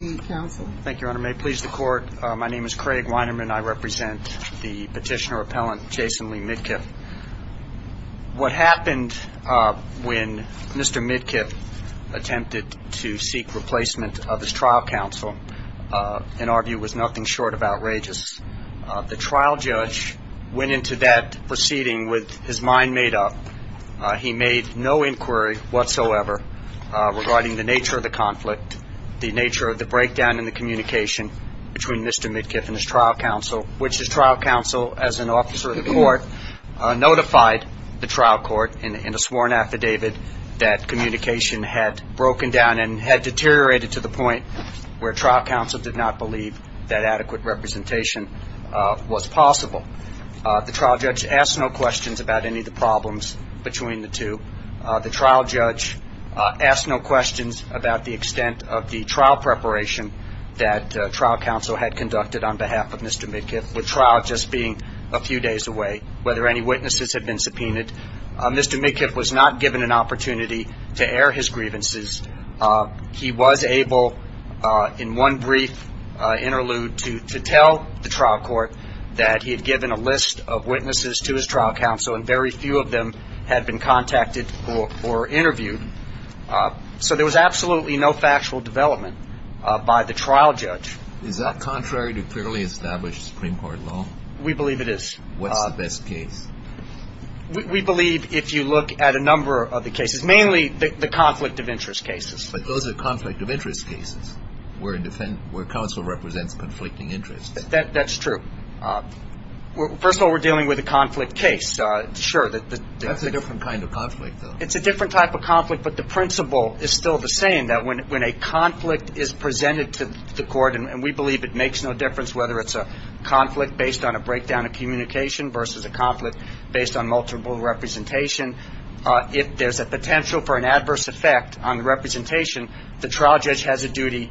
Thank you, Your Honor. May it please the Court, my name is Craig Weinerman. I represent the petitioner-appellant Jason Lee Midkiff. What happened when Mr. Midkiff attempted to seek replacement of his trial counsel, in our view, was nothing short of outrageous. The trial judge went into that proceeding with his mind made up. He made no inquiry whatsoever regarding the nature of the conflict, the nature of the breakdown in the communication between Mr. Midkiff and his trial counsel, which his trial counsel, as an officer of the Court, notified the trial court in a sworn affidavit that communication had broken down and had deteriorated to the point where trial counsel did not believe that adequate representation was possible. The trial judge asked no questions about any of the problems between the two. The trial judge asked no questions about the extent of the trial preparation that trial counsel had conducted on behalf of Mr. Midkiff, with trial just being a few days away, whether any witnesses had been subpoenaed. Mr. Midkiff was not given an opportunity to air his grievances. He was able, in one brief interlude, to tell the trial court that he had given a list of witnesses to his trial counsel and very few of them had been contacted or interviewed. So there was absolutely no factual development by the trial judge. Is that contrary to clearly established Supreme Court law? We believe it is. What's the best case? We believe, if you look at a number of the cases, mainly the conflict of interest cases. But those are conflict of interest cases where counsel represents conflicting interests. That's true. First of all, we're dealing with a conflict case. Sure. That's a different kind of conflict, though. It's a different type of conflict, but the principle is still the same, that when a conflict is presented to the Court, and we believe it makes no difference whether it's a conflict based on a breakdown of communication versus a conflict based on multiple representation, if there's a potential for an adverse effect on the representation, the trial judge has a duty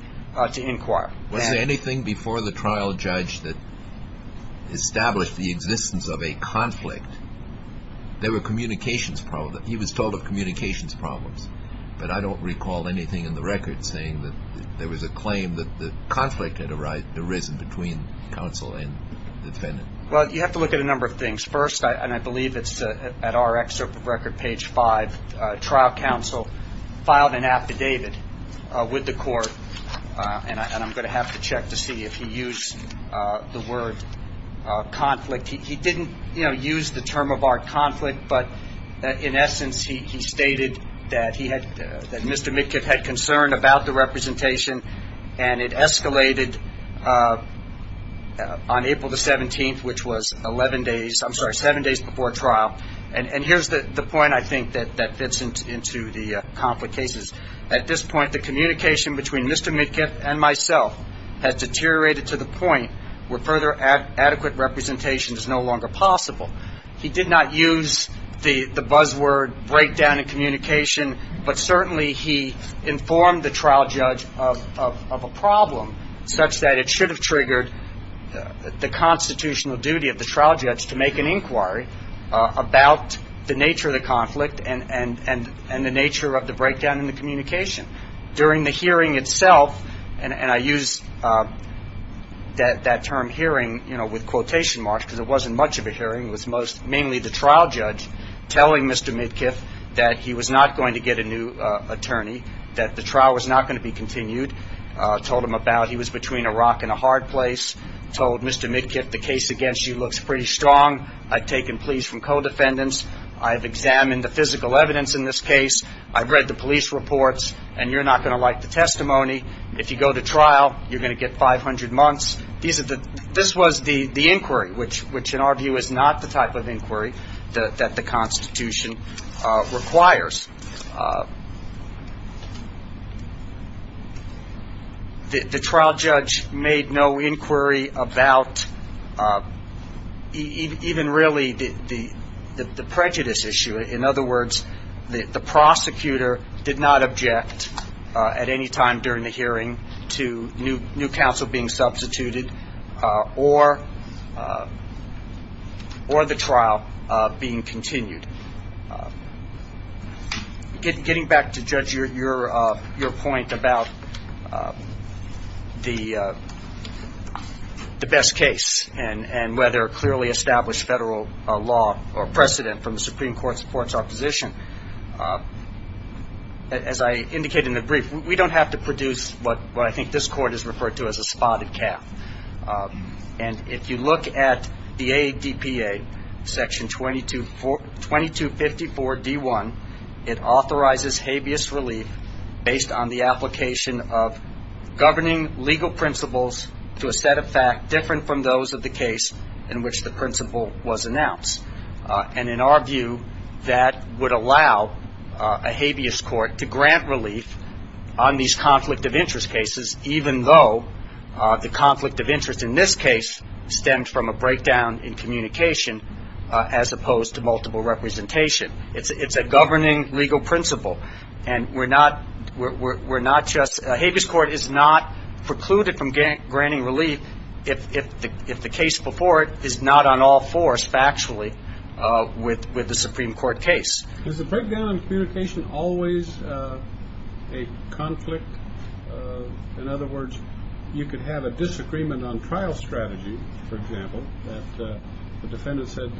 to inquire. Was there anything before the trial judge that established the existence of a conflict? There were communications problems. He was told of communications problems, but I don't recall anything in the record saying that there was a claim that the conflict had arisen between counsel and the defendant. Well, you have to look at a number of things. First, and I believe it's at our excerpt of record, page 5, trial counsel filed an affidavit with the Court, and I'm going to have to check to see if he used the word conflict. He didn't, you know, use the term of our conflict, but in essence he stated that he had, that Mr. Mitkiff had concern about the representation, and it escalated on April the 17th, which was 11 days, I'm sorry, seven days before trial. And here's the point I think that fits into the conflict cases. At this point, the communication between Mr. Mitkiff and myself had deteriorated to the point where further adequate representation is no longer possible. He did not use the buzzword breakdown in communication, but certainly he informed the trial judge of a problem such that it should have triggered the constitutional duty of the trial judge to make an inquiry about the nature of the conflict and the nature of the breakdown in the communication. During the hearing itself, and I use that term hearing, you know, with quotation marks, because it wasn't much of a hearing. It was mainly the trial judge telling Mr. Mitkiff that he was not going to get a new attorney, that the trial was not going to be continued, told him about he was between a rock and a hard place, told Mr. Mitkiff the case against you looks pretty strong. I've taken pleas from co-defendants. I've examined the physical evidence in this case. I've read the police reports, and you're not going to like the testimony. If you go to trial, you're going to get 500 months. This was the inquiry, which in our view is not the type of inquiry that the Constitution requires. The trial judge made no inquiry about even really the prejudice issue. In other words, the prosecutor did not object at any time during the hearing to new counsel being substituted or the trial being continued. Getting back to, Judge, your point about the best case and whether a clearly established federal law or precedent from the Supreme Court supports our position, as I indicated in the brief, we don't have to produce what I think this Court has referred to as a spotted calf. And if you look at the ADPA, Section 2254-D1, it authorizes habeas relief based on the application of governing legal principles to a set of facts that are different from those of the case in which the principle was announced. And in our view, that would allow a habeas court to grant relief on these conflict of interest cases, even though the conflict of interest in this case stemmed from a breakdown in communication as opposed to multiple representation. It's a governing legal principle. And we're not just – a habeas court is not precluded from granting relief if the case before it is not on all fours factually with the Supreme Court case. Is the breakdown in communication always a conflict? In other words, you could have a disagreement on trial strategy, for example, that the defendant said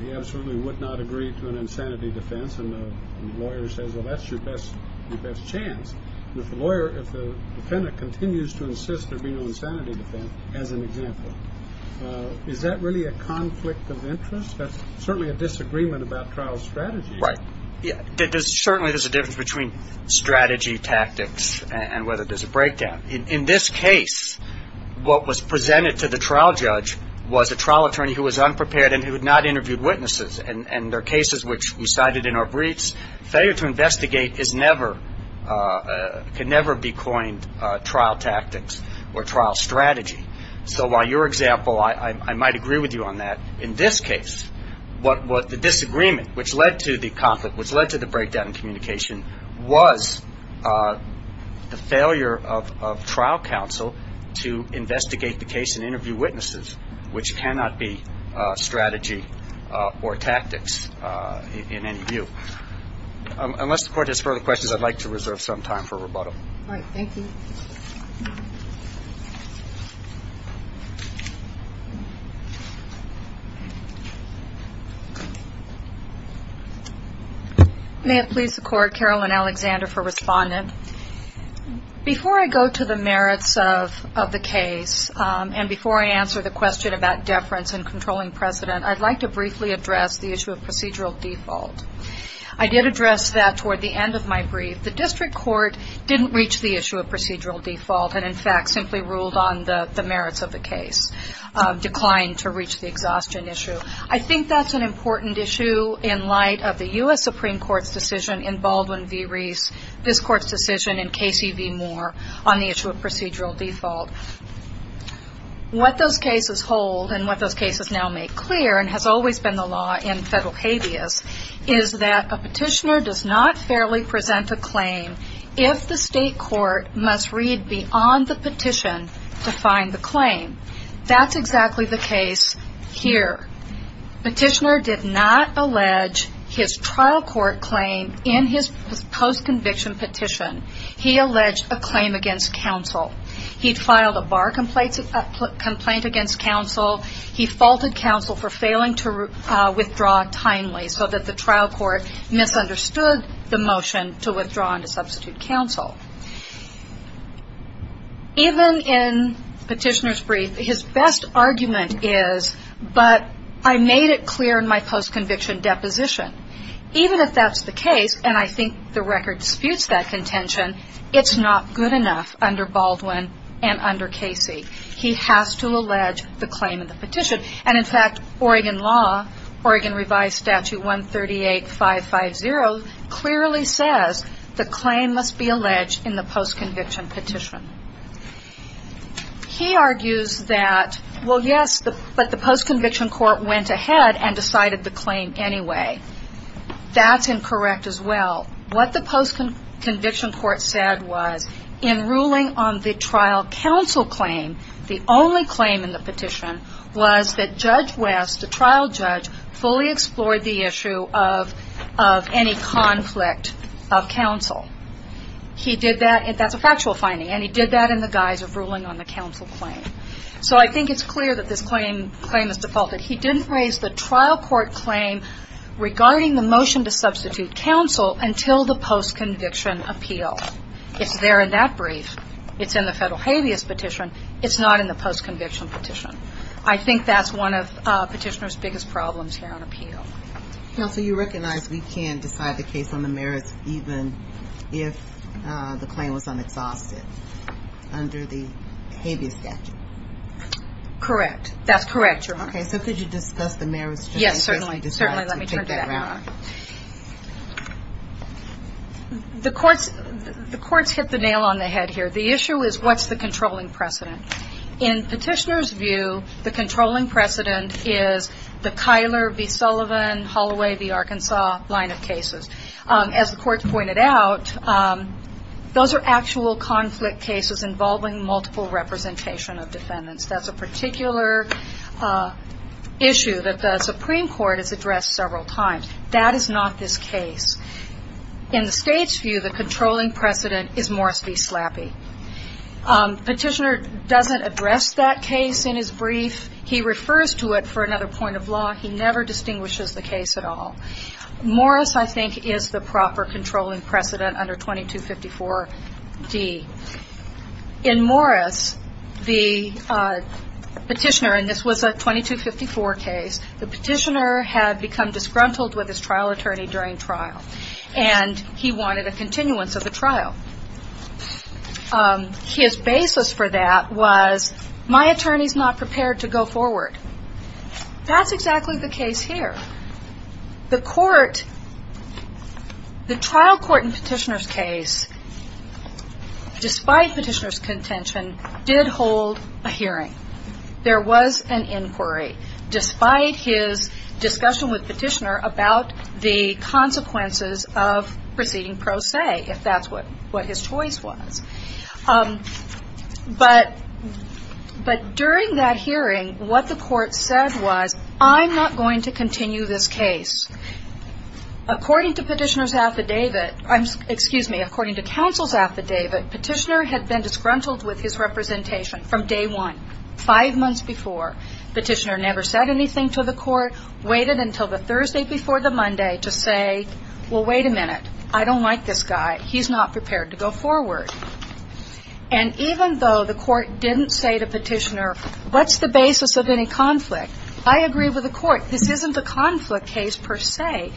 he absolutely would not agree to an insanity defense and the lawyer says, well, that's your best chance. If the lawyer – if the defendant continues to insist there be no insanity defense, as an example, is that really a conflict of interest? That's certainly a disagreement about trial strategy. Right. Certainly there's a difference between strategy, tactics, and whether there's a breakdown. In this case, what was presented to the trial judge was a trial attorney who was unprepared and who had not interviewed witnesses, and there are cases which we cited in our briefs. Failure to investigate is never – can never be coined trial tactics or trial strategy. So while your example, I might agree with you on that, in this case, what the disagreement, which led to the conflict, which led to the breakdown in communication, was the failure of trial counsel to investigate the case and interview witnesses, which cannot be strategy or tactics in any view. Unless the Court has further questions, I'd like to reserve some time for rebuttal. All right. Thank you. May it please the Court, Carolyn Alexander for Respondent. Before I go to the merits of the case and before I answer the question about deference and controlling precedent, I'd like to briefly address the issue of procedural default. I did address that toward the end of my brief. The District Court didn't reach the issue of procedural default and, in fact, simply ruled on the merits of the case, declined to reach the exhaustion issue. I think that's an important issue in light of the U.S. Supreme Court's decision in Baldwin v. Reese, this Court's decision in Casey v. Moore on the issue of procedural default. What those cases hold and what those cases now make clear, and has always been the law in federal habeas, is that a petitioner does not fairly present a claim if the State Court must read beyond the petition to find the claim. That's exactly the case here. Petitioner did not allege his trial court claim in his post-conviction petition. He alleged a claim against counsel. He filed a bar complaint against counsel. He faulted counsel for failing to withdraw timely so that the trial court misunderstood the motion to withdraw and to substitute counsel. Even in Petitioner's brief, his best argument is, but I made it clear in my post-conviction deposition. Even if that's the case, and I think the record disputes that contention, it's not good enough under Baldwin and under Casey. He has to allege the claim in the petition. And, in fact, Oregon law, Oregon Revised Statute 138-550, clearly says the claim must be alleged in the post-conviction petition. He argues that, well, yes, but the post-conviction court went ahead and decided the claim anyway. That's incorrect as well. What the post-conviction court said was, in ruling on the trial counsel claim, the only claim in the petition was that Judge West, the trial judge, fully explored the issue of any conflict of counsel. He did that. That's a factual finding. And he did that in the guise of ruling on the counsel claim. So I think it's clear that this claim is defaulted. He didn't raise the trial court claim regarding the motion to substitute counsel until the post-conviction appeal. It's there in that brief. It's in the federal habeas petition. It's not in the post-conviction petition. I think that's one of petitioner's biggest problems here on appeal. Counsel, you recognize we can't decide the case on the merits even if the claim was unexhausted under the habeas statute. Correct. That's correct, Your Honor. Okay, so could you discuss the merits? Yes, certainly. Let me turn to that. The courts hit the nail on the head here. The issue is what's the controlling precedent? In petitioner's view, the controlling precedent is the Kyler v. Sullivan, Holloway v. Arkansas line of cases. As the court pointed out, those are actual conflict cases involving multiple representation of defendants. That's a particular issue that the Supreme Court has addressed several times. That is not this case. In the state's view, the controlling precedent is Morris v. Slappy. Petitioner doesn't address that case in his brief. He refers to it for another point of law. He never distinguishes the case at all. Morris, I think, is the proper controlling precedent under 2254d. In Morris, the petitioner, and this was a 2254 case, the petitioner had become disgruntled with his trial attorney during trial, and he wanted a continuance of the trial. His basis for that was, my attorney's not prepared to go forward. That's exactly the case here. The court, the trial court in petitioner's case, despite petitioner's contention, did hold a hearing. There was an inquiry, despite his discussion with petitioner about the consequences of proceeding pro se, if that's what his choice was. But during that hearing, what the court said was, I'm not going to continue this case. According to petitioner's affidavit, excuse me, according to counsel's affidavit, petitioner had been disgruntled with his representation from day one, five months before. Petitioner never said anything to the court, waited until the Thursday before the Monday to say, well, wait a minute, I don't like this guy. He's not prepared to go forward. And even though the court didn't say to petitioner, what's the basis of any conflict? I agree with the court. This isn't a conflict case per se.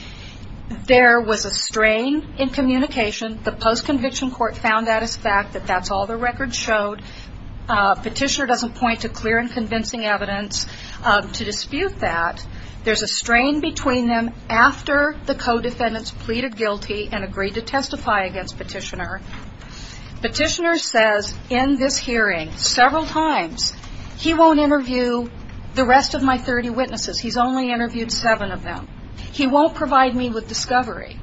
There was a strain in communication. The post-conviction court found that as a fact, that that's all the record showed. Petitioner doesn't point to clear and convincing evidence to dispute that. There's a strain between them, After the co-defendants pleaded guilty and agreed to testify against petitioner, petitioner says in this hearing several times, he won't interview the rest of my 30 witnesses. He's only interviewed seven of them. He won't provide me with discovery.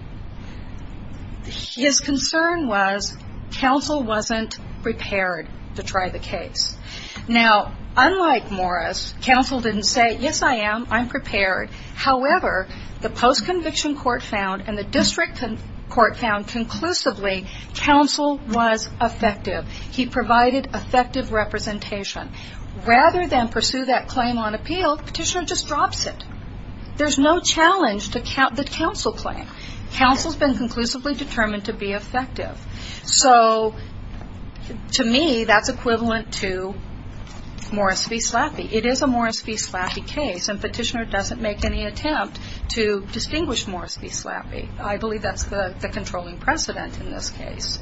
His concern was counsel wasn't prepared to try the case. Now, unlike Morris, counsel didn't say, yes, I am, I'm prepared. However, the post-conviction court found, and the district court found conclusively, counsel was effective. He provided effective representation. Rather than pursue that claim on appeal, petitioner just drops it. There's no challenge to the counsel claim. Counsel's been conclusively determined to be effective. So, to me, that's equivalent to Morris v. Slaffy. It is a Morris v. Slaffy case, and petitioner doesn't make any attempt to distinguish Morris v. Slaffy. I believe that's the controlling precedent in this case.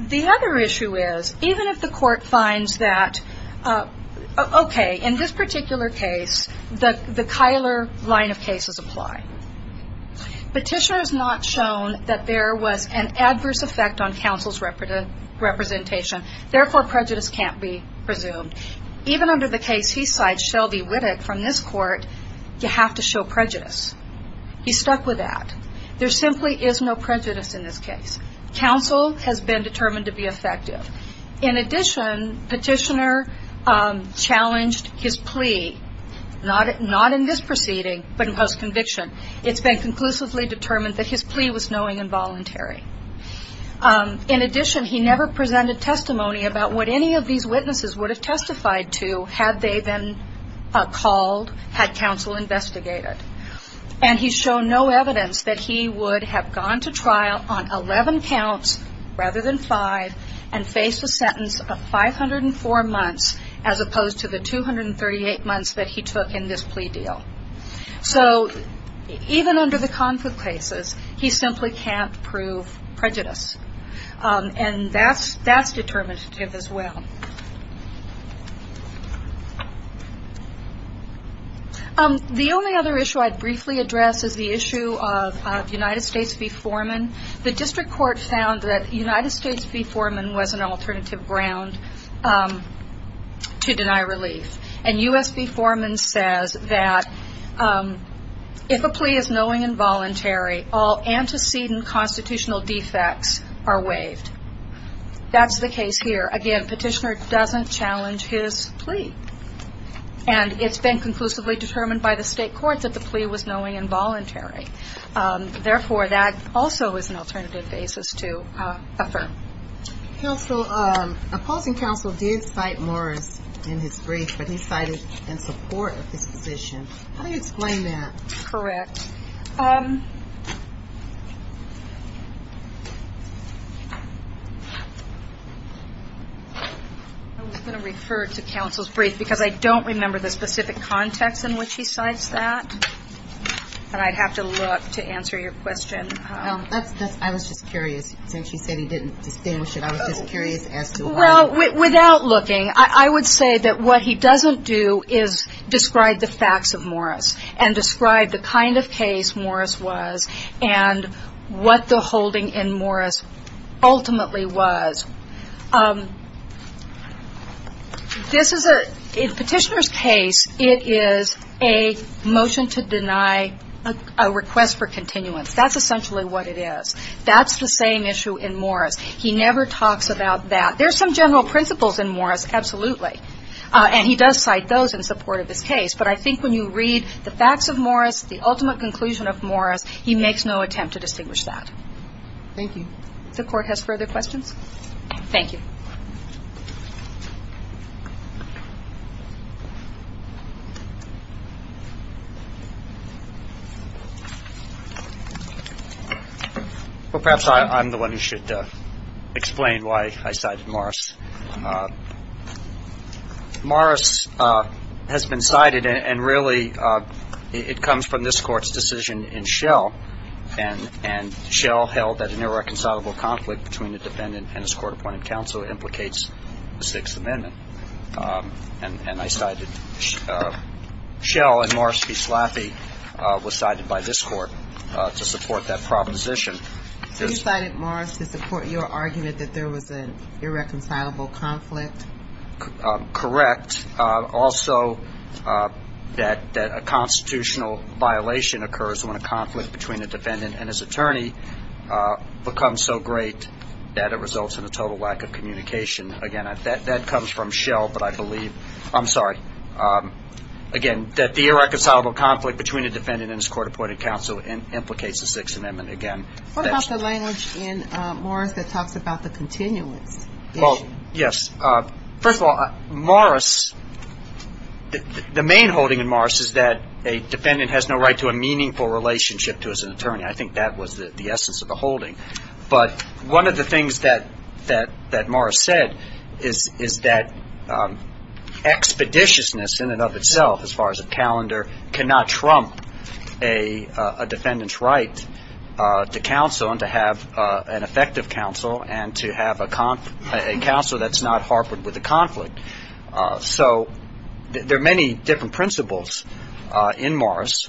The other issue is, even if the court finds that, okay, in this particular case, the Kyler line of cases apply. Petitioner has not shown that there was an adverse effect on counsel's representation. Therefore, prejudice can't be presumed. Even under the case he cites, Shelby Whittock, from this court, you have to show prejudice. He's stuck with that. There simply is no prejudice in this case. Counsel has been determined to be effective. In addition, petitioner challenged his plea, not in this proceeding, but in post-conviction. It's been conclusively determined that his plea was knowing and voluntary. In addition, he never presented testimony about what any of these witnesses would have testified to, had they been called, had counsel investigated. And he's shown no evidence that he would have gone to trial on 11 counts, rather than five, and faced a sentence of 504 months, as opposed to the 238 months that he took in this plea deal. So even under the conflict cases, he simply can't prove prejudice. And that's determinative as well. The only other issue I'd briefly address is the issue of United States v. Foreman. The district court found that United States v. Foreman was an alternative ground to deny relief. And U.S. v. Foreman says that if a plea is knowing and voluntary, all antecedent constitutional defects are waived. That's the case here. Again, petitioner doesn't challenge his plea. And it's been conclusively determined by the state courts that the plea was knowing and voluntary. Therefore, that also is an alternative basis to affirm. Counsel, opposing counsel did cite Morris in his brief, but he cited in support of this position. How do you explain that? Correct. I was going to refer to counsel's brief, because I don't remember the specific context in which he cites that. But I'd have to look to answer your question. I was just curious. Since you said he didn't distinguish it, I was just curious as to why. Well, without looking, I would say that what he doesn't do is describe the facts of Morris and describe the kind of case Morris was and what the holding in Morris ultimately was. This is a petitioner's case. It is a motion to deny a request for continuance. That's essentially what it is. That's the same issue in Morris. He never talks about that. There are some general principles in Morris, absolutely. And he does cite those in support of his case. But I think when you read the facts of Morris, the ultimate conclusion of Morris, he makes no attempt to distinguish that. Thank you. If the Court has further questions. Thank you. Well, perhaps I'm the one who should explain why I cited Morris. Morris has been cited, and really it comes from this Court's decision in Schell. And Schell held that an irreconcilable conflict between the defendant and his court-appointed counsel implicates the Sixth Amendment. And I cited Schell. And Morris v. Slaffy was cited by this Court to support that proposition. So you cited Morris to support your argument that there was an irreconcilable conflict? Correct. Also, that a constitutional violation occurs when a conflict between a defendant and his attorney becomes so great that it results in a total lack of communication. Again, that comes from Schell, but I believe – I'm sorry. Again, that the irreconcilable conflict between a defendant and his court-appointed counsel implicates the Sixth Amendment. What about the language in Morris that talks about the continuance issue? Well, yes. First of all, Morris – the main holding in Morris is that a defendant has no right to a meaningful relationship to his attorney. I think that was the essence of the holding. But one of the things that Morris said is that expeditiousness in and of itself, as far as a calendar, cannot trump a defendant's right to counsel and to have an effective counsel and to have a counsel that's not harbored with a conflict. So there are many different principles in Morris.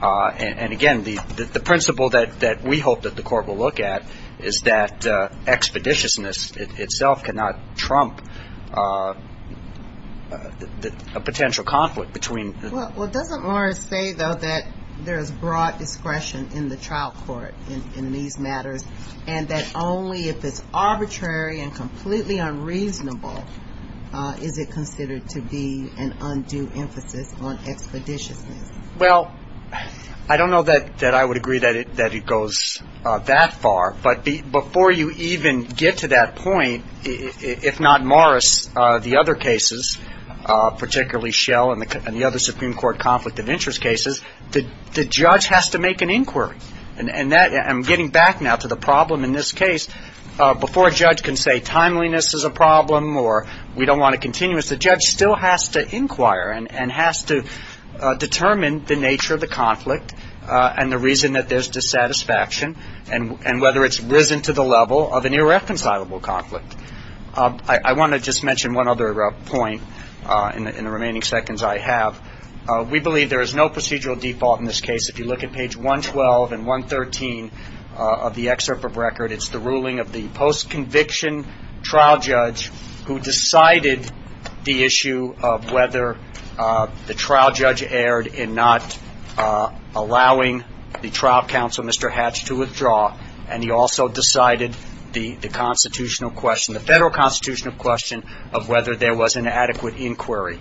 And again, the principle that we hope that the court will look at is that expeditiousness itself cannot trump a potential conflict between – Well, doesn't Morris say, though, that there is broad discretion in the trial court in these matters and that only if it's arbitrary and completely unreasonable is it considered to be an undue emphasis on expeditiousness? Well, I don't know that I would agree that it goes that far. But before you even get to that point, if not Morris, the other cases, particularly Schell and the other Supreme Court conflict of interest cases, the judge has to make an inquiry. And I'm getting back now to the problem in this case. Before a judge can say timeliness is a problem or we don't want a continuance, the judge still has to inquire and has to determine the nature of the conflict and the reason that there's dissatisfaction and whether it's risen to the level of an irreconcilable conflict. I want to just mention one other point in the remaining seconds I have. We believe there is no procedural default in this case. If you look at page 112 and 113 of the excerpt of record, it's the ruling of the post-conviction trial judge who decided the issue of whether the trial judge erred in not allowing the trial counsel, Mr. Hatch, to withdraw. And he also decided the constitutional question, the federal constitutional question of whether there was an adequate inquiry.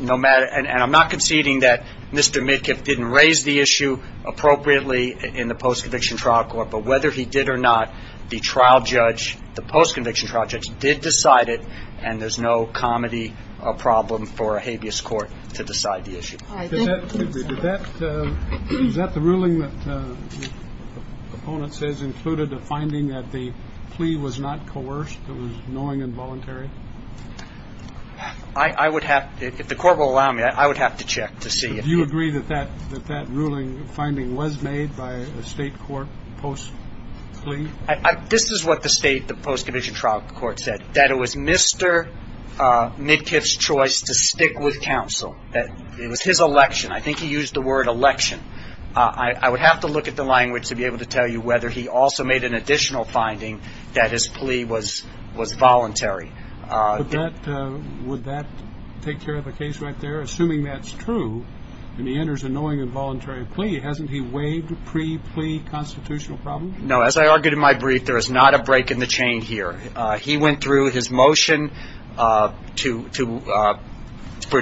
And I'm not conceding that Mr. Midkiff didn't raise the issue appropriately in the post-conviction trial court, but whether he did or not, the trial judge, the post-conviction trial judge, did decide it and there's no comedy or problem for a habeas court to decide the issue. All right. Thank you. Is that the ruling that the opponent says included a finding that the plea was not coerced, it was knowing and voluntary? I would have to, if the court will allow me, I would have to check to see. Do you agree that that ruling finding was made by a state court post-plea? This is what the state, the post-conviction trial court said, that it was Mr. Midkiff's choice to stick with counsel, that it was his election. I think he used the word election. I would have to look at the language to be able to tell you whether he also made an additional finding that his plea was voluntary. Would that take care of the case right there? Assuming that's true and he enters a knowing and voluntary plea, hasn't he waived pre-plea constitutional problems? No. As I argued in my brief, there is not a break in the chain here. He went through his motion for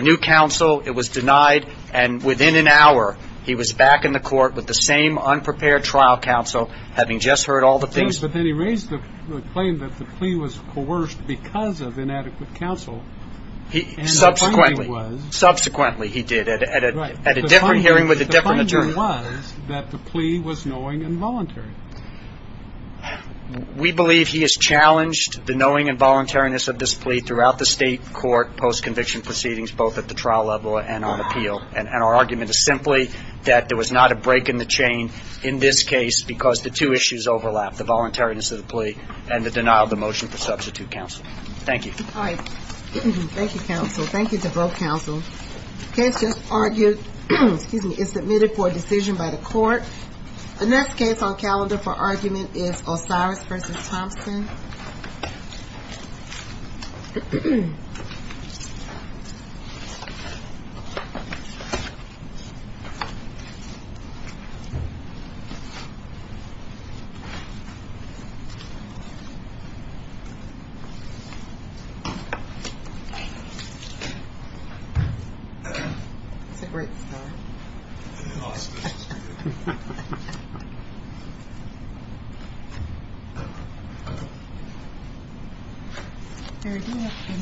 new counsel. It was denied, and within an hour he was back in the court with the same unprepared trial counsel, having just heard all the things. But then he raised the claim that the plea was coerced because of inadequate counsel. Subsequently. Subsequently he did. At a different hearing with a different attorney. The finding was that the plea was knowing and voluntary. We believe he has challenged the knowing and voluntariness of this plea throughout the state court post-conviction proceedings, both at the trial level and on appeal. And our argument is simply that there was not a break in the chain in this case because the two issues overlap, the voluntariness of the plea and the denial of the motion for substitute counsel. Thank you. All right. Thank you, counsel. Thank you to both counsel. The case just argued is submitted for a decision by the court. The next case on calendar for argument is Osiris v. Thompson. Thank you.